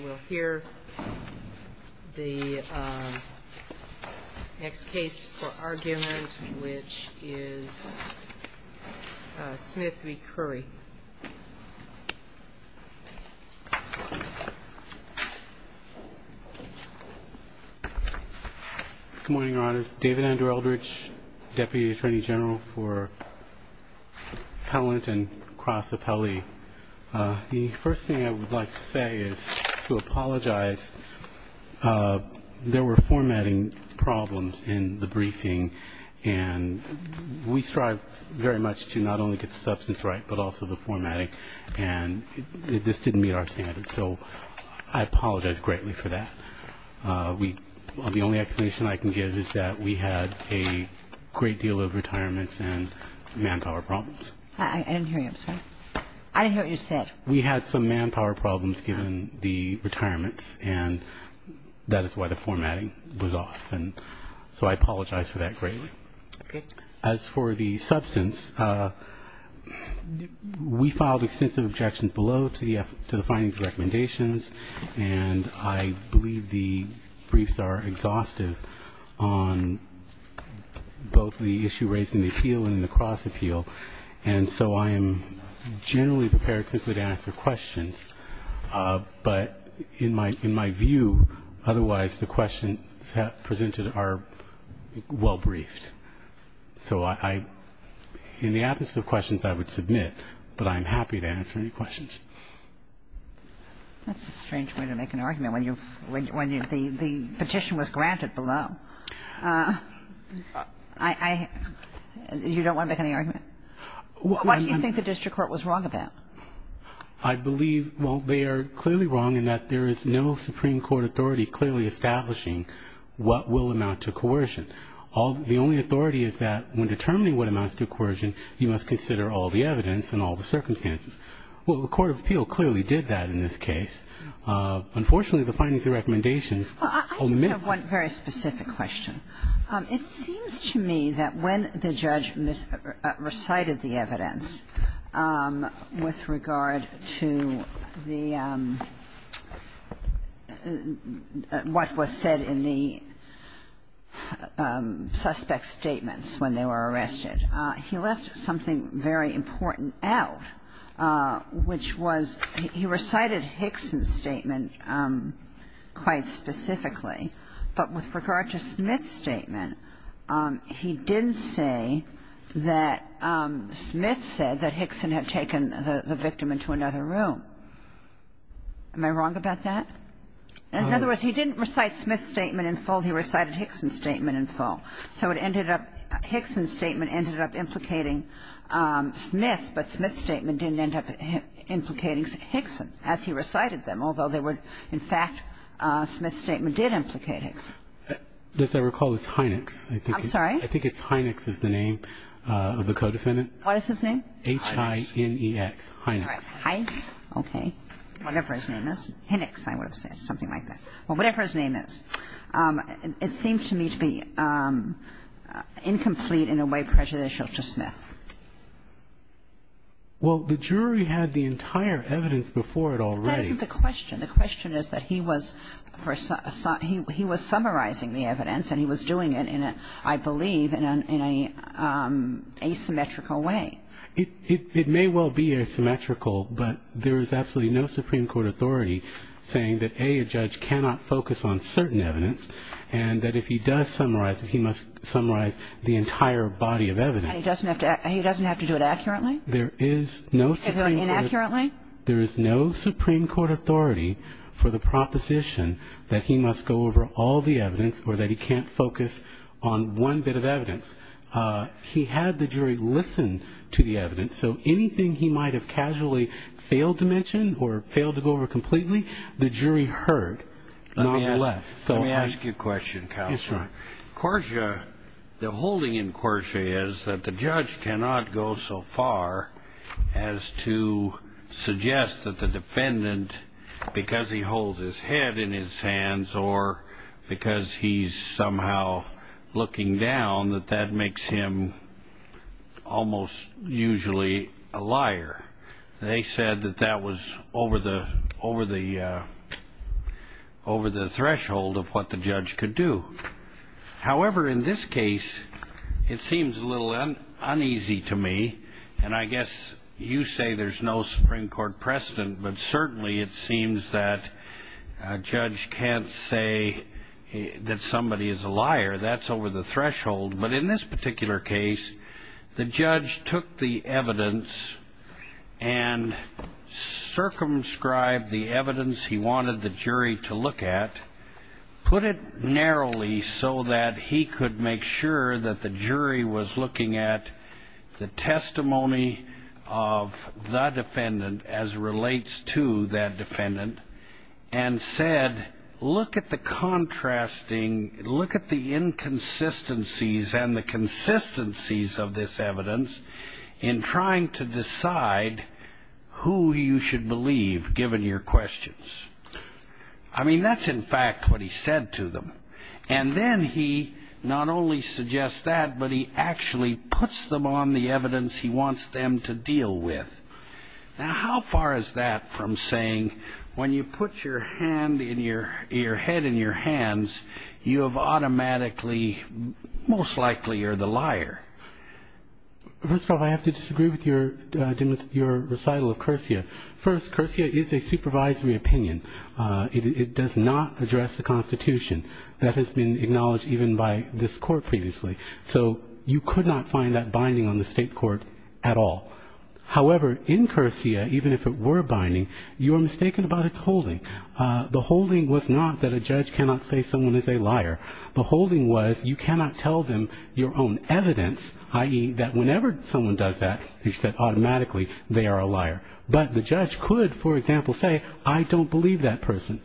We'll hear the next case for argument, which is Smith v. Curry. Good morning, Your Honors. David Andrew Eldridge, Deputy Attorney General for Pellant and Cross Appellee. The first thing I would like to say is to apologize. There were formatting problems in the briefing, and we strive very much to not only get the substance right but also the formatting, and this didn't meet our standards. So I apologize greatly for that. The only explanation I can give is that we had a great deal of retirements and manpower problems. I didn't hear you. I'm sorry. I didn't hear what you said. We had some manpower problems given the retirements, and that is why the formatting was off. And so I apologize for that greatly. Okay. As for the substance, we filed extensive objections below to the findings and recommendations, and I believe the briefs are exhaustive on both the issue raised in the appeal and in the cross appeal. And so I am generally prepared simply to answer questions. But in my view, otherwise, the questions presented are well briefed. So in the absence of questions, I would submit, but I'm happy to answer any questions. That's a strange way to make an argument when the petition was granted below. You don't want to make any argument? What do you think the district court was wrong about? I believe, well, they are clearly wrong in that there is no Supreme Court authority clearly establishing what will amount to coercion. The only authority is that when determining what amounts to coercion, you must consider all the evidence and all the circumstances. Well, the court of appeal clearly did that in this case. Unfortunately, the findings and recommendations omit them. I have one very specific question. It seems to me that when the judge recited the evidence with regard to the what was said in the suspect's statements when they were arrested, he left something very important out, which was he recited Hickson's statement quite specifically. But with regard to Smith's statement, he didn't say that Smith said that Hickson had taken the victim into another room. Am I wrong about that? In other words, he didn't recite Smith's statement in full. He recited Hickson's statement in full. So it ended up, Hickson's statement ended up implicating Smith, but Smith's statement didn't end up implicating Hickson as he recited them, although there were, in fact, Smith's statement did implicate Hickson. As I recall, it's Hynex. I'm sorry? I think it's Hynex is the name of the co-defendant. What is his name? H-I-N-E-X, Hynex. Hynex. Okay. Whatever his name is. Hynex, I would have said, something like that. Well, whatever his name is. It seems to me to be incomplete in a way prejudicial to Smith. Well, the jury had the entire evidence before it already. That isn't the question. The question is that he was summarizing the evidence and he was doing it, I believe, in an asymmetrical way. It may well be asymmetrical, but there is absolutely no Supreme Court authority saying that, A, a judge cannot focus on certain evidence and that if he does summarize it, he must summarize the entire body of evidence. He doesn't have to do it accurately? There is no Supreme Court. Inaccurately? There is no Supreme Court authority for the proposition that he must go over all the evidence or that he can't focus on one bit of evidence. He had the jury listen to the evidence, so anything he might have casually failed to mention or failed to go over completely, the jury heard, nonetheless. Let me ask you a question, Counselor. Yes, sir. Corsia, the holding in Corsia is that the judge cannot go so far as to suggest that the defendant, because he holds his head in his hands or because he's somehow looking down, that that makes him almost usually a liar. They said that that was over the threshold of what the judge could do. However, in this case, it seems a little uneasy to me, and I guess you say there's no Supreme Court precedent, but certainly it seems that a judge can't say that somebody is a liar. That's over the threshold. But in this particular case, the judge took the evidence and circumscribed the evidence he wanted the jury to look at, put it narrowly so that he could make sure that the jury was looking at the testimony of the defendant as relates to that defendant, and said, look at the contrasting, look at the inconsistencies and the consistencies of this evidence in trying to decide who you should believe, given your questions. I mean, that's in fact what he said to them. And then he not only suggests that, but he actually puts them on the evidence he wants them to deal with. Now, how far is that from saying when you put your hand in your head and your hands, you have automatically most likely you're the liar? First of all, I have to disagree with your recital of Curcia. First, Curcia is a supervisory opinion. It does not address the Constitution. That has been acknowledged even by this court previously. So you could not find that binding on the state court at all. However, in Curcia, even if it were binding, you are mistaken about its holding. The holding was not that a judge cannot say someone is a liar. The holding was you cannot tell them your own evidence, i.e., that whenever someone does that, you said automatically they are a liar. But the judge could, for example, say I don't believe that person.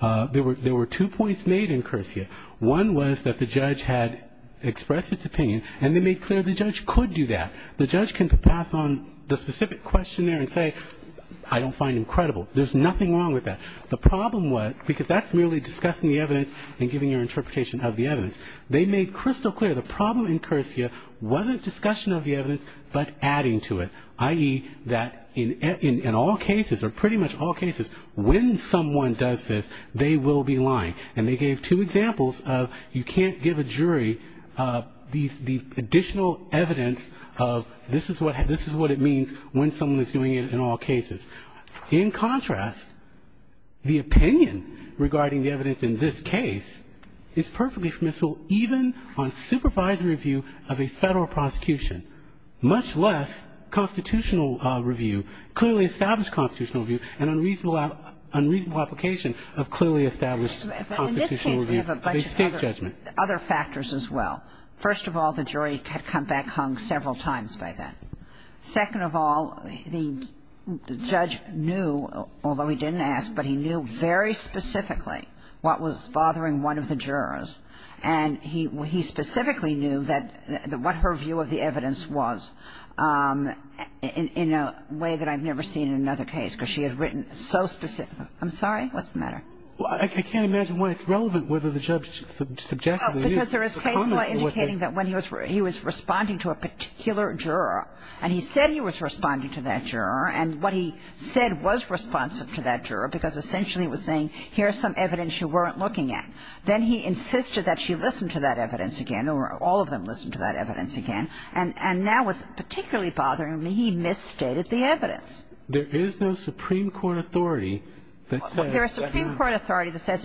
There were two points made in Curcia. One was that the judge had expressed its opinion, and they made clear the judge could do that. The judge can pass on the specific questionnaire and say I don't find him credible. There's nothing wrong with that. The problem was, because that's merely discussing the evidence and giving your interpretation of the evidence, they made crystal clear the problem in Curcia wasn't discussion of the evidence but adding to it, i.e., that in all cases or pretty much all cases, when someone does this, they will be lying. And they gave two examples of you can't give a jury the additional evidence of this is what it means when someone is doing it in all cases. In contrast, the opinion regarding the evidence in this case is perfectly permissible even on supervisory review of a Federal prosecution, much less constitutional review, clearly established constitutional review and unreasonable application of clearly established constitutional review of a State judgment. But in this case we have a bunch of other factors as well. First of all, the jury had come back hung several times by then. Second of all, the judge knew, although he didn't ask, but he knew very specifically what was bothering one of the jurors, and he specifically knew that what her view of the evidence was in a way that I've never seen in another case, because she had written so specifically. I'm sorry. What's the matter? I can't imagine why it's relevant whether the judge subjectively knew. Because there is case law indicating that when he was responding to a particular juror, and he said he was responding to that juror, and what he said was responsive to that juror, because essentially he was saying, here's some evidence you weren't looking at. Then he insisted that she listen to that evidence again, or all of them listened to that evidence again. And now what's particularly bothering me, he misstated the evidence. There is no Supreme Court authority that says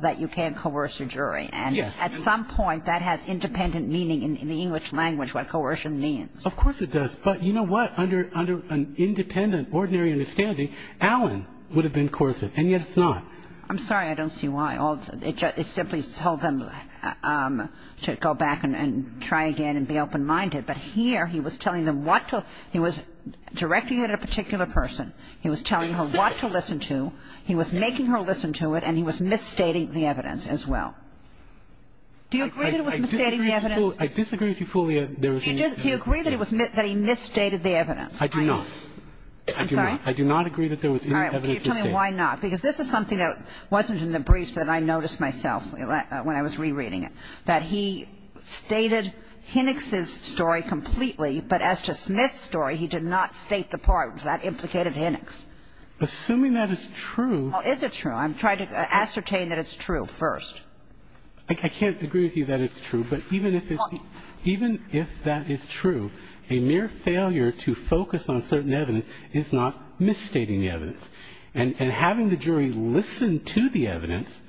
that you can't coerce a jury. Yes. And at some point that has independent meaning in the English language, what coercion means. Of course it does. But you know what? Under an independent, ordinary understanding, Allen would have been coercive, and yet it's not. I'm sorry. I don't see why. I think it's a very important point. a particular person, you know, it simply told them to go back and try again and be open-minded. But here he was telling them what to do. He was directing it at a particular person. He was telling her what to listen to. He was making her listen to it. And he was misstating the evidence as well. Do you agree that it was misstating the evidence? I disagree with you fully. Do you agree that he misstated the evidence? I do not. I do not. I do not agree that there was any evidence misstated. Why not? Because this is something that wasn't in the briefs that I noticed myself when I was rereading it, that he stated Hennix's story completely, but as to Smith's story, he did not state the part that implicated Hennix. Assuming that is true. Is it true? I'm trying to ascertain that it's true first. I can't agree with you that it's true, but even if it's true, even if that is true, a mere failure to focus on certain evidence is not misstating the evidence. And having the jury listen to the evidence,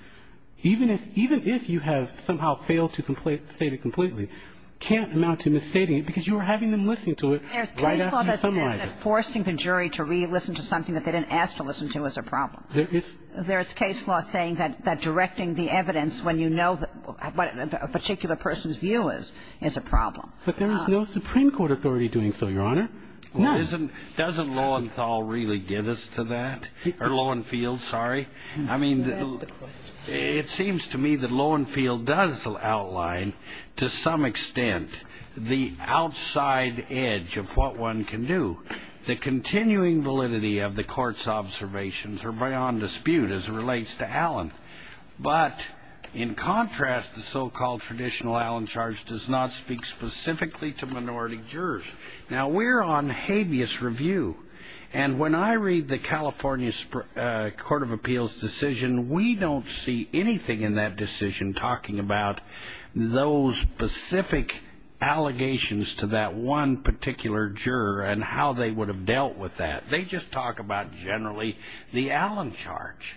even if you have somehow failed to state it completely, can't amount to misstating it, because you are having them listen to it right after you summarize it. There's case law that says that forcing the jury to re-listen to something that they didn't ask to listen to is a problem. There is case law saying that directing the evidence when you know what a particular person's view is, is a problem. But there is no Supreme Court authority doing so, Your Honor. No. Doesn't Lowenthal really give us to that? Or Lowenthal, sorry. I mean, it seems to me that Lowenthal does outline to some extent the outside edge of what one can do. The continuing validity of the Court's observations are beyond dispute as it relates to Allen. But in contrast, the so-called traditional Allen charge does not speak specifically to minority jurors. Now, we're on habeas review, and when I read the California Court of Appeals decision, we don't see anything in that decision talking about those specific allegations to that one particular juror and how they would have dealt with that. They just talk about generally the Allen charge.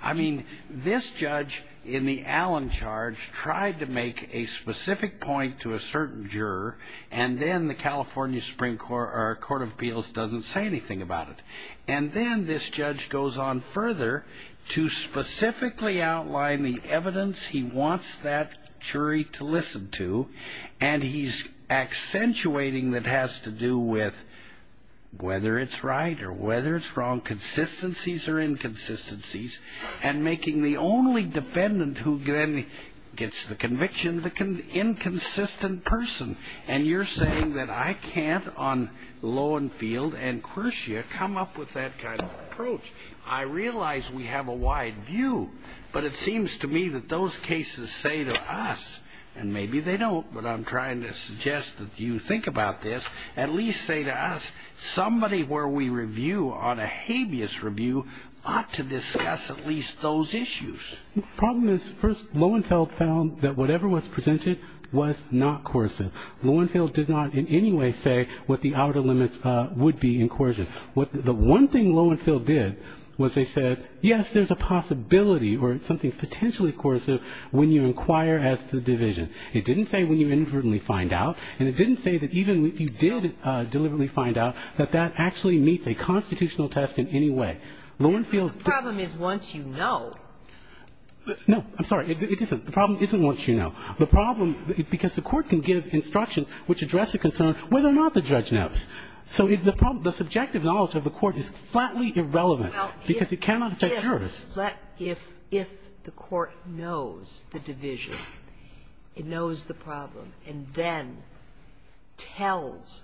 I mean, this judge in the Allen charge tried to make a specific point to a certain juror, and then the California Supreme Court or Court of Appeals doesn't say anything about it. And then this judge goes on further to specifically outline the evidence he wants that jury to listen to, and he's accentuating that it has to do with whether it's right or whether it's wrong, consistencies or inconsistencies, and making the only defendant who then gets the conviction the inconsistent person. And you're saying that I can't on Lowenthal and Kershia come up with that kind of approach. I realize we have a wide view, but it seems to me that those cases say to us, and maybe they don't, but I'm trying to suggest that you think about this, at least say to us somebody where we review on a habeas review ought to discuss at least those issues. The problem is first Lowenthal found that whatever was presented was not coercive. Lowenthal did not in any way say what the outer limits would be in coercion. The one thing Lowenthal did was they said, yes, there's a possibility or something potentially coercive when you inquire as to the division. It didn't say when you inadvertently find out. And it didn't say that even if you did deliberately find out, that that actually meets a constitutional test in any way. Lowenthal's ---- The problem is once you know. No. I'm sorry. It isn't. The problem isn't once you know. The problem, because the Court can give instructions which address a concern whether or not the judge knows. So the problem, the subjective knowledge of the Court is flatly irrelevant because it cannot affect yours. But if the Court knows the division, it knows the problem, and then tells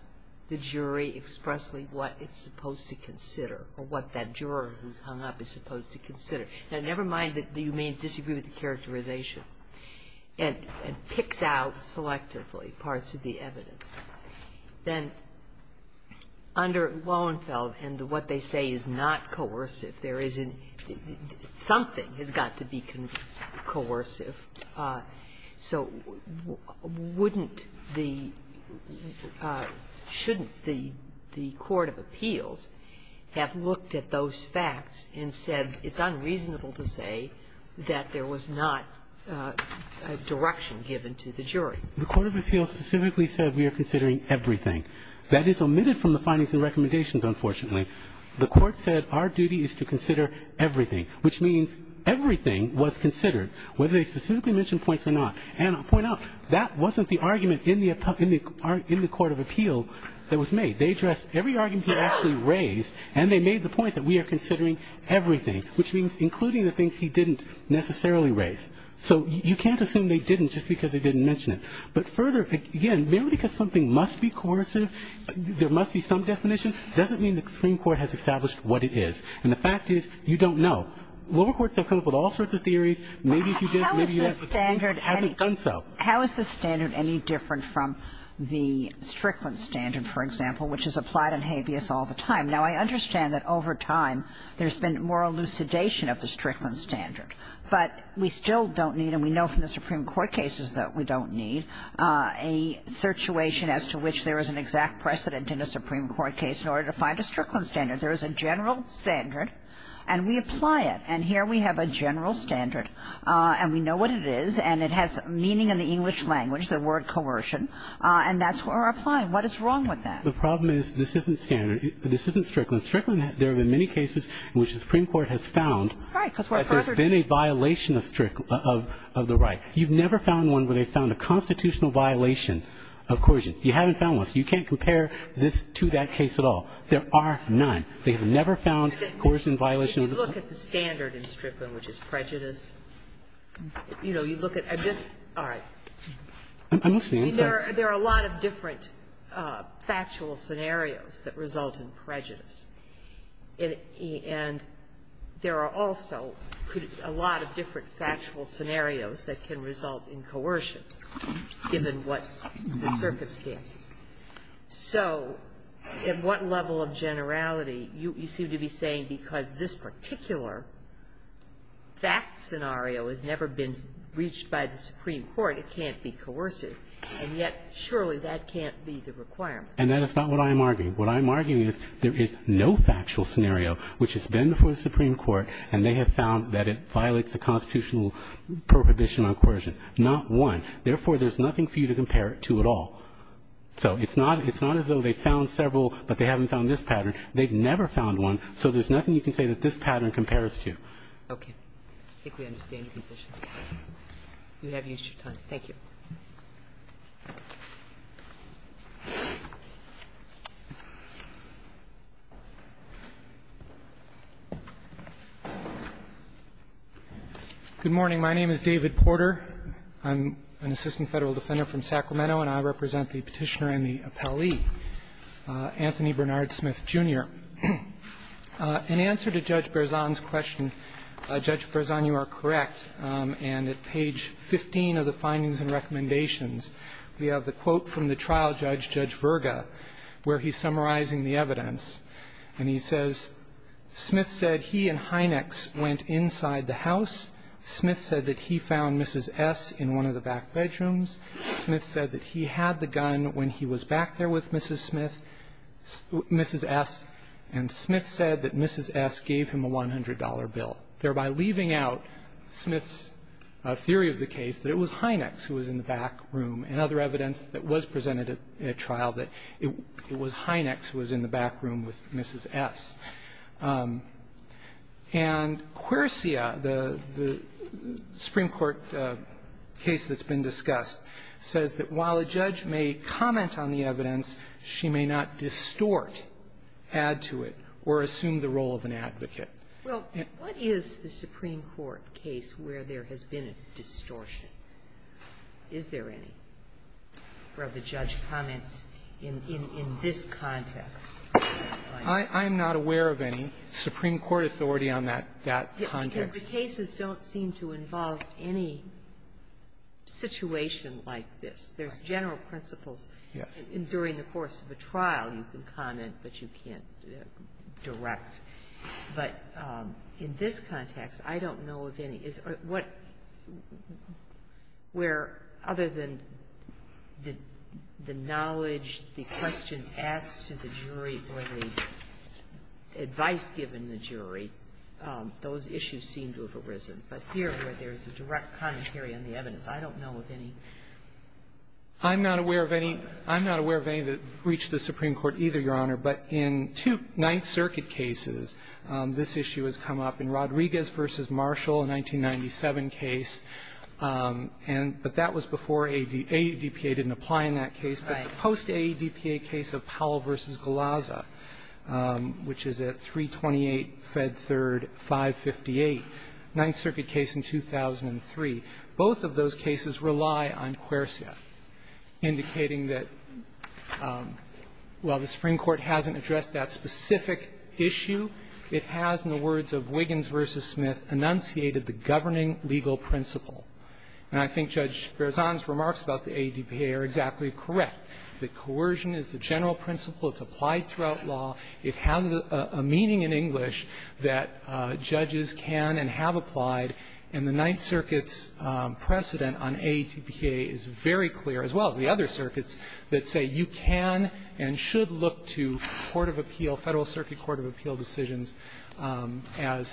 the jury expressly what it's supposed to consider or what that juror who's hung up is supposed to consider. Now, never mind that you may disagree with the characterization and picks out selectively parts of the evidence. Then under Lowenthal, and what they say is not coercive, there is a ---- something has got to be coercive. So wouldn't the ---- shouldn't the court of appeals have looked at those facts and said it's unreasonable to say that there was not a direction given to the jury? The court of appeals specifically said we are considering everything. That is omitted from the findings and recommendations, unfortunately. The court said our duty is to consider everything, which means everything was considered, whether they specifically mentioned points or not. And I'll point out, that wasn't the argument in the court of appeal that was made. They addressed every argument he actually raised, and they made the point that we are considering everything, which means including the things he didn't necessarily raise. So you can't assume they didn't just because they didn't mention it. But further, again, merely because something must be coercive, there must be some definition, doesn't mean the Supreme Court has established what it is. And the fact is, you don't know. Lower courts have come up with all sorts of theories. Maybe if you did, maybe you haven't done so. Kagan. How is the standard any different from the Strickland standard, for example, which is applied on habeas all the time? Now, I understand that over time there's been more elucidation of the Strickland standard, but we still don't need, and we know from the Supreme Court cases that we don't need, a situation as to which there is an exact precedent in a Supreme Court case in order to find a Strickland standard. There is a general standard, and we apply it. And here we have a general standard, and we know what it is, and it has meaning in the English language, the word coercion. And that's where we're applying. What is wrong with that? The problem is this isn't standard. This isn't Strickland. In Strickland, there have been many cases in which the Supreme Court has found that there's been a violation of the right. You've never found one where they found a constitutional violation of coercion. You haven't found one. So you can't compare this to that case at all. There are none. They have never found coercion violation of the right. If you look at the standard in Strickland, which is prejudice, you know, you look at just all right. I'm listening. There are a lot of different factual scenarios that result in prejudice. And there are also a lot of different factual scenarios that can result in coercion given what the circumstances. So at what level of generality, you seem to be saying because this particular fact scenario has never been reached by the Supreme Court, it can't be coercive. And yet, surely that can't be the requirement. And that is not what I am arguing. What I am arguing is there is no factual scenario which has been before the Supreme Court, and they have found that it violates a constitutional prohibition on coercion, not one. Therefore, there's nothing for you to compare it to at all. So it's not as though they found several, but they haven't found this pattern. They've never found one. So there's nothing you can say that this pattern compares to. Kagan. I think we understand your position. You have used your time. Thank you. Porter. Good morning. My name is David Porter. I'm an assistant Federal Defender from Sacramento, and I represent the Petitioner and the appellee, Anthony Bernard Smith, Jr. In answer to Judge Berzon's question, Judge Berzon, you are correct. And at page 15 of the findings and recommendations, we have the quote from the trial judge, Judge Verga, where he's summarizing the evidence. And he says, Smith said he and Hynex went inside the house. Smith said that he found Mrs. S. in one of the back bedrooms. Smith said that he had the gun when he was back there with Mrs. Smith, Mrs. S., and Smith said that Mrs. S. gave him a $100 bill. Thereby leaving out Smith's theory of the case, that it was Hynex who was in the back room, and other evidence that was presented at trial, that it was Hynex who was in the back room with Mrs. S. And Quersia, the Supreme Court case that's been discussed, says that while a judge may comment on the evidence, she may not distort, add to it, or assume the role of an advocate. Well, what is the Supreme Court case where there has been a distortion? Is there any where the judge comments in this context? I'm not aware of any. Supreme Court authority on that context. Because the cases don't seem to involve any situation like this. There's general principles. Yes. During the course of a trial, you can comment, but you can't direct. But in this context, I don't know of any. Where, other than the knowledge, the questions asked to the jury or the advice given the jury, those issues seem to have arisen. But here, where there's a direct commentary on the evidence, I don't know of any. I'm not aware of any. I'm not aware of any that have reached the Supreme Court either, Your Honor. But in two Ninth Circuit cases, this issue has come up. In Rodriguez v. Marshall, a 1997 case, and that was before AEDPA didn't apply in that case, but the post-AEDPA case of Powell v. Galazza, which is at 328 Fed 3rd 558, Ninth Circuit case in 2003, both of those cases rely on quercia, indicating that while the Supreme Court hasn't addressed that specific issue, it has, in the words of Wiggins v. Smith, enunciated the governing legal principle. And I think Judge Berzon's remarks about the AEDPA are exactly correct. The coercion is the general principle. It's applied throughout law. It has a meaning in English that judges can and have applied. And the Ninth Circuit's precedent on AEDPA is very clear, as well as the other circuits, that say you can and should look to court of appeal, Federal Circuit court of appeal decisions, as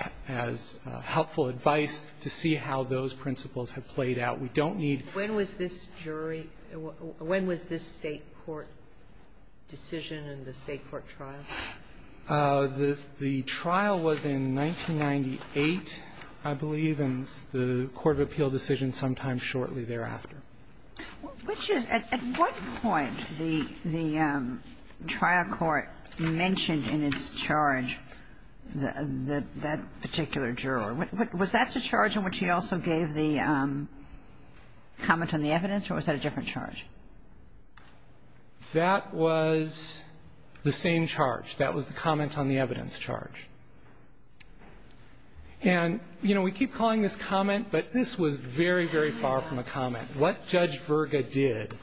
helpful advice to see how those principles have played out. We don't need to. Sotomayor, when was this jury or when was this State court decision in the State court trial? The trial was in 1998, I believe, and the court of appeal decision sometime shortly thereafter. Which is at what point the trial court mentioned in its charge that that particular juror? Was that the charge in which he also gave the comment on the evidence, or was that a different charge? That was the same charge. That was the comment on the evidence charge. And, you know, we keep calling this comment, but this was very, very far from a comment. What Judge Virga did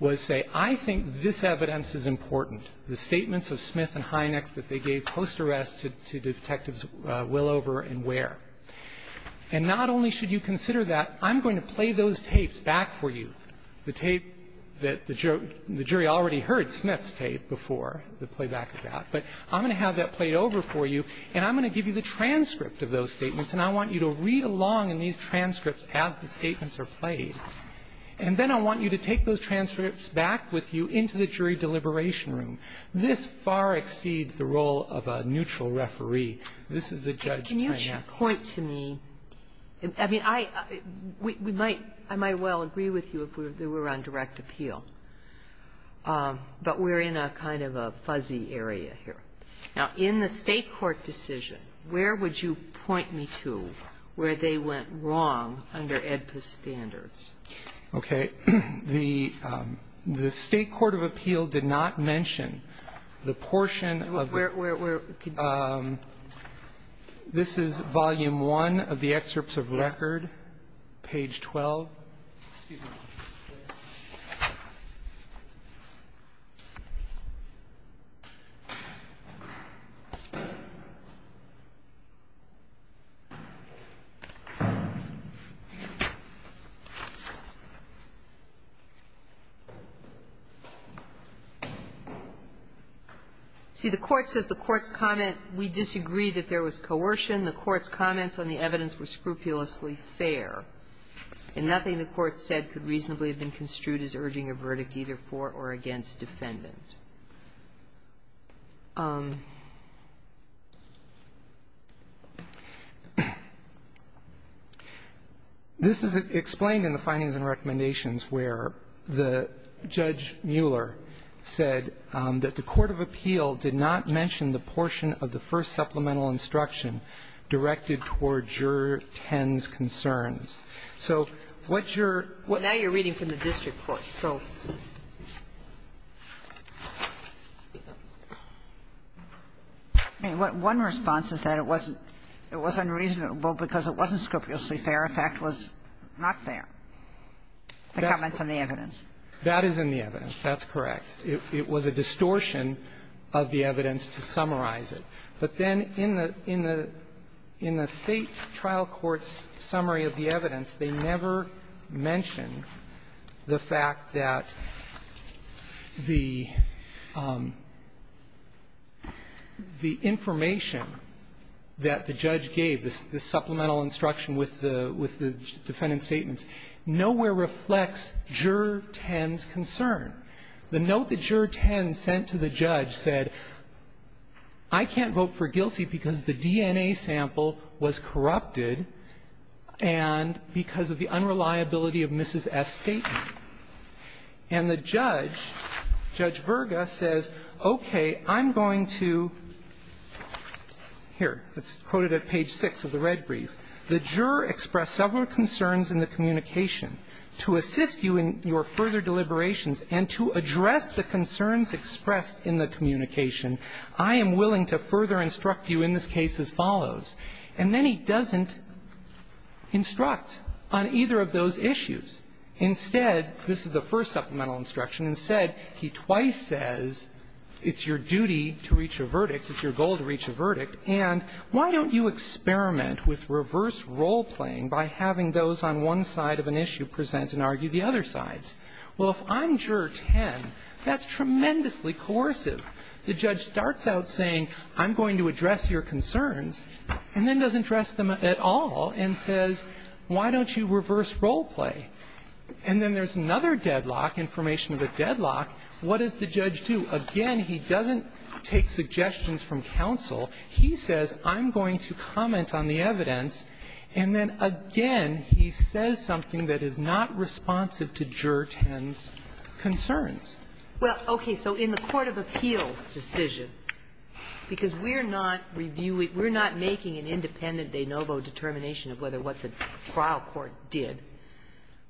was say, I think this evidence is important, the statements of Smith and Hynex that they gave post-arrest to Detectives Willover and Ware. And not only should you consider that, I'm going to play those tapes back for you. The tape that the jury already heard Smith's tape before, the playback of that. But I'm going to have that played over for you, and I'm going to give you the transcript of those statements. And I want you to read along in these transcripts as the statements are played. And then I want you to take those transcripts back with you into the jury deliberation room. This far exceeds the role of a neutral referee. This is the judge, Hynex. Sotomayor, can you point to me? I mean, I might well agree with you if we were on direct appeal, but we're in a kind of a fuzzy area here. Now, in the State court decision, where would you point me to where they went wrong under AEDPA's standards? Okay. The State court of appeal did not mention the portion of the ---- Where? This is volume one of the excerpts of record, page 12. Excuse me. See, the Court says the Court's comment, we disagree that there was coercion. The Court's comments on the evidence were scrupulously fair, and nothing the Court said could reasonably have been construed as urging a verdict either for or against defendant. This is explained in the findings and recommendations where the Judge Mueller said that the court of appeal did not mention the portion of the first supplemental instruction directed toward juror 10's concerns. So what your ---- Now you're reading from the district court, so. One response is that it wasn't ---- it was unreasonable because it wasn't scrupulously fair. In fact, it was not fair, the comments on the evidence. That is in the evidence. That's correct. It was a distortion of the evidence to summarize it. But then in the state trial court's summary of the evidence, they never mention the fact that the information that the judge gave, the supplemental instruction with the defendant's statements, nowhere reflects juror 10's concern. The note that juror 10 sent to the judge said, I can't vote for guilty because the DNA sample was corrupted and because of the unreliability of Mrs. S.'s statement. And the judge, Judge Virga, says, okay, I'm going to ---- here, let's quote it at page 6 of the red brief, the juror expressed several concerns in the communication. To assist you in your further deliberations and to address the concerns expressed in the communication, I am willing to further instruct you in this case as follows. And then he doesn't instruct on either of those issues. Instead, this is the first supplemental instruction, instead he twice says, it's your duty to reach a verdict, it's your goal to reach a verdict, and why don't you experiment with reverse role-playing by having those on one side of an issue present and argue the other sides? Well, if I'm juror 10, that's tremendously coercive. The judge starts out saying, I'm going to address your concerns, and then doesn't address them at all and says, why don't you reverse role-play? And then there's another deadlock, information of a deadlock, what does the judge do? Again, he doesn't take suggestions from counsel. He says, I'm going to comment on the evidence, and then again, he says something that is not responsive to juror 10's concerns. Well, okay. So in the court of appeals decision, because we're not reviewing, we're not making an independent de novo determination of whether what the trial court did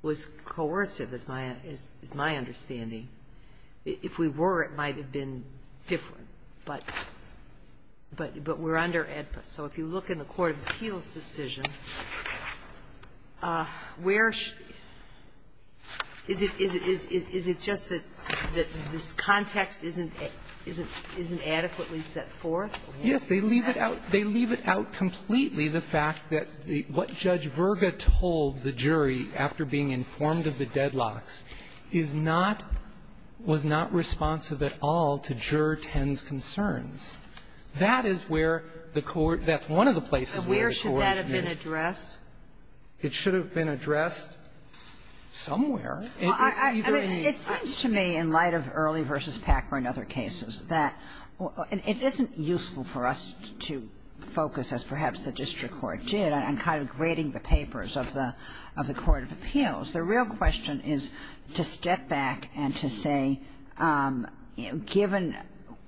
was coercive, is my understanding. If we were, it might have been different. But we're under AEDPA. So if you look in the court of appeals decision, where is it just that this context isn't adequately set forth? Yes. They leave it out. They leave it out completely, the fact that what Judge Virga told the jury after being informed of the deadlocks is not, was not responsive at all to juror 10's concerns. That is where the court, that's one of the places where the court is. So where should that have been addressed? It should have been addressed somewhere. Well, I mean, it seems to me, in light of Early v. Packer and other cases, that it isn't useful for us to focus, as perhaps the district court did, on kind of grading the papers of the court of appeals. The real question is to step back and to say, given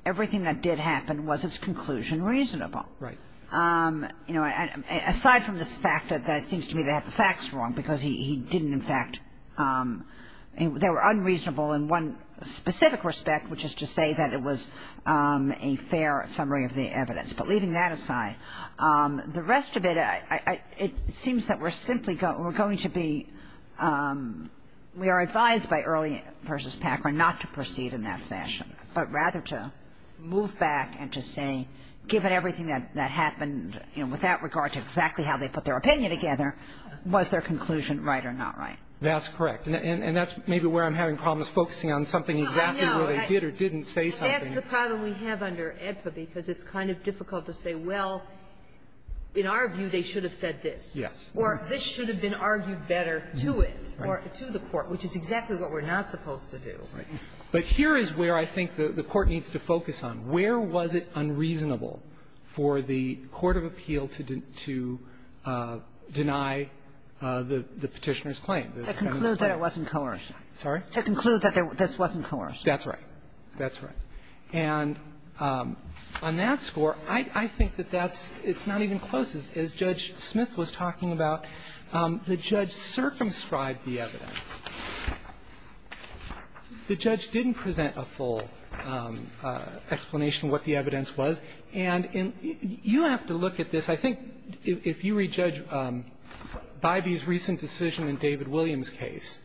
everything that did happen, was its conclusion reasonable? Right. You know, aside from this fact that it seems to me that the fact's wrong, because he didn't, in fact, they were unreasonable in one specific respect, which is to say that it was a fair summary of the evidence. But leaving that aside, the rest of it, I, I, it seems that we're simply going to be, we are advised by Early v. Packer not to proceed in that fashion, but rather to move back and to say, given everything that happened, you know, with that regard to exactly how they put their opinion together, was their conclusion right or not right? That's correct. And that's maybe where I'm having problems, focusing on something exactly where they did or didn't say something. That's the problem we have under AEDPA, because it's kind of difficult to say, well, in our view, they should have said this. Yes. Or this should have been argued better to it or to the court, which is exactly what we're not supposed to do. Right. But here is where I think the Court needs to focus on. Where was it unreasonable for the court of appeal to deny the Petitioner's claim, the defendant's claim? To conclude that it wasn't coerced. Sorry? To conclude that this wasn't coerced. That's right. That's right. And on that score, I think that that's not even close. As Judge Smith was talking about, the judge circumscribed the evidence. The judge didn't present a full explanation of what the evidence was. And you have to look at this. I think if you read Judge Bybee's recent decision in David Williams' case,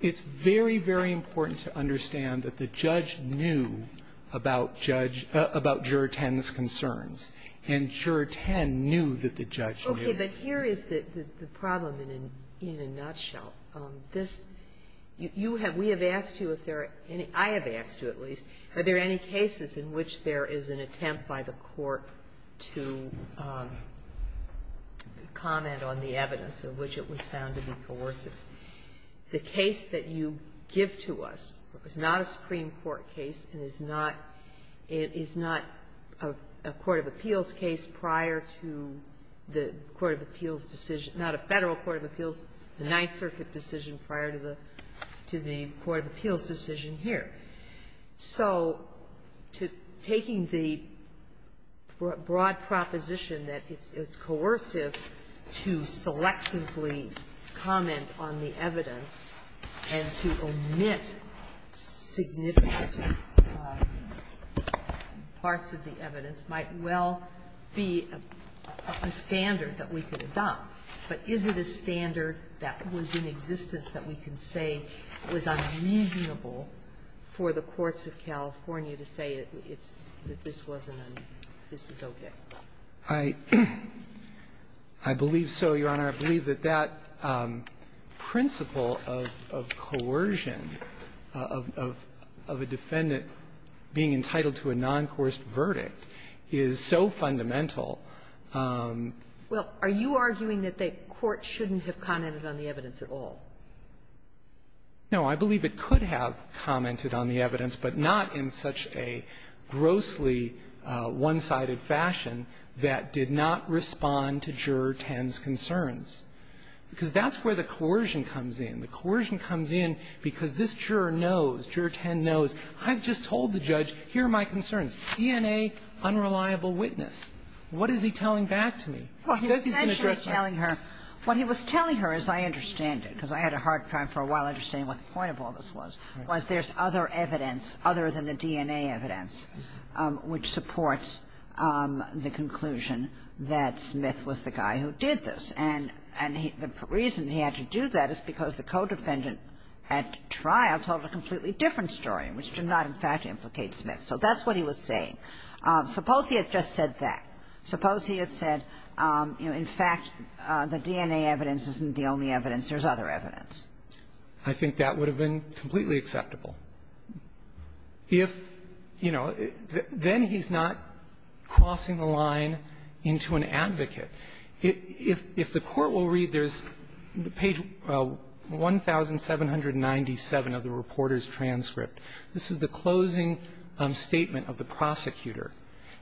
it's very, very important to understand that the judge knew about judge – about Juror 10's concerns. And Juror 10 knew that the judge knew. Okay. But here is the problem in a nutshell. This – you have – we have asked you if there are any – I have asked you, at least. Are there any cases in which there is an attempt by the court to comment on the evidence of which it was found to be coercive? The case that you give to us is not a Supreme Court case and is not – it is not a court of appeals case prior to the court of appeals decision – not a Federal court of appeals, the Ninth Circuit decision prior to the court of appeals decision here. So taking the broad proposition that it's coercive to selectively comment on the evidence and to omit significant parts of the evidence might well be a standard that we could adopt, but is it a standard that was in existence that we can say was unreasonable for the courts of California to say it's – that this wasn't a – this was okay? I believe so, Your Honor. I believe that that principle of coercion, of a defendant being entitled to a noncoerced verdict, is so fundamental. Well, are you arguing that the court shouldn't have commented on the evidence at all? No. I believe it could have commented on the evidence, but not in such a grossly one-sided fashion that did not respond to Juror 10's concerns. Because that's where the coercion comes in. The coercion comes in because this juror knows, Juror 10 knows, I've just told the judge, here are my concerns. DNA, unreliable witness. What is he telling back to me? He says he's going to address my question. Well, he's essentially telling her – what he was telling her, as I understand it, because I had a hard time for a while understanding what the point of all this was, was there's other evidence, other than the DNA evidence, which supports the conclusion that Smith was the guy who did this. And the reason he had to do that is because the co-defendant at trial told a completely different story, which did not, in fact, implicate Smith. So that's what he was saying. Suppose he had just said that. Suppose he had said, you know, in fact, the DNA evidence isn't the only evidence. There's other evidence. I think that would have been completely acceptable. If, you know, then he's not crossing the line into an advocate. If the Court will read, there's page 1797 of the reporter's transcript. This is the closing statement of the prosecutor.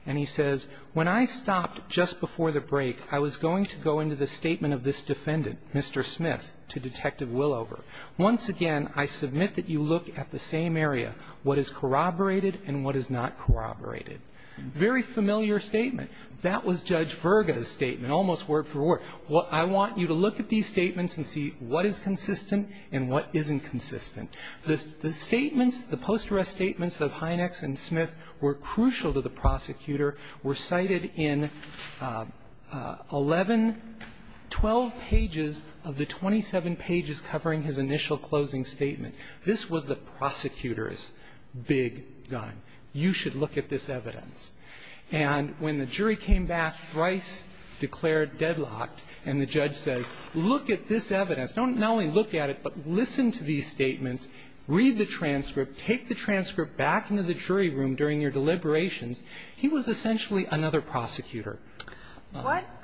And he says, When I stopped just before the break, I was going to go into the statement of this defendant, Mr. Smith, to Detective Willover. Once again, I submit that you look at the same area, what is corroborated and what is not corroborated. Very familiar statement. That was Judge Virga's statement, almost word for word. Well, I want you to look at these statements and see what is consistent and what isn't consistent. The statements, the post-arrest statements of Hynex and Smith were crucial to the prosecutor. were cited in 11, 12 pages of the 27 pages covering his initial closing statement. This was the prosecutor's big gun. You should look at this evidence. And when the jury came back thrice declared deadlocked and the judge says, look at this evidence, not only look at it, but listen to these statements, read the transcript, take the transcript back into the jury room during your deliberations, he was essentially another prosecutor. What –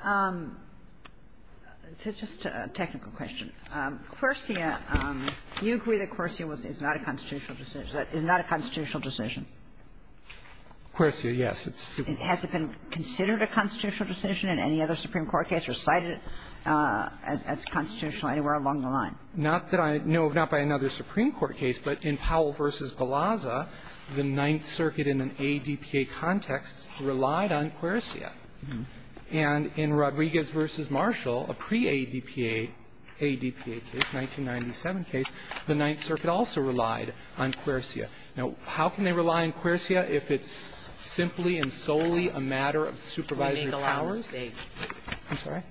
just a technical question. Quersia, you agree that Quersia is not a constitutional decision. Is that a constitutional decision? Quersia, yes. Has it been considered a constitutional decision in any other Supreme Court case or cited as constitutional anywhere along the line? Not that I know of, not by another Supreme Court case, but in Powell v. Galazza, the Ninth Circuit in an ADPA context relied on Quersia. And in Rodriguez v. Marshall, a pre-ADPA case, 1997 case, the Ninth Circuit also relied on Quersia. Now, how can they rely on Quersia if it's simply and solely a matter of supervisory powers? I'm sorry?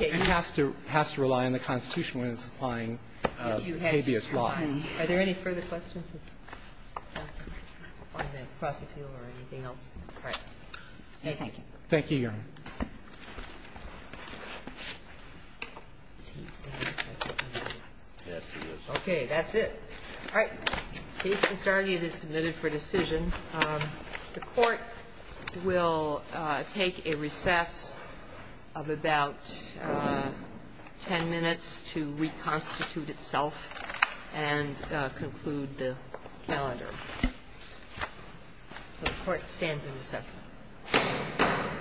It has to – has to rely on the Constitution when it's applying habeas law. Are there any further questions of counsel on the prosecutor or anything else? All right. Thank you. Thank you, Your Honor. Okay. That's it. All right. The case is started and is submitted for decision. The Court will take a recess of about 10 minutes to reconstitute itself and conclude the calendar.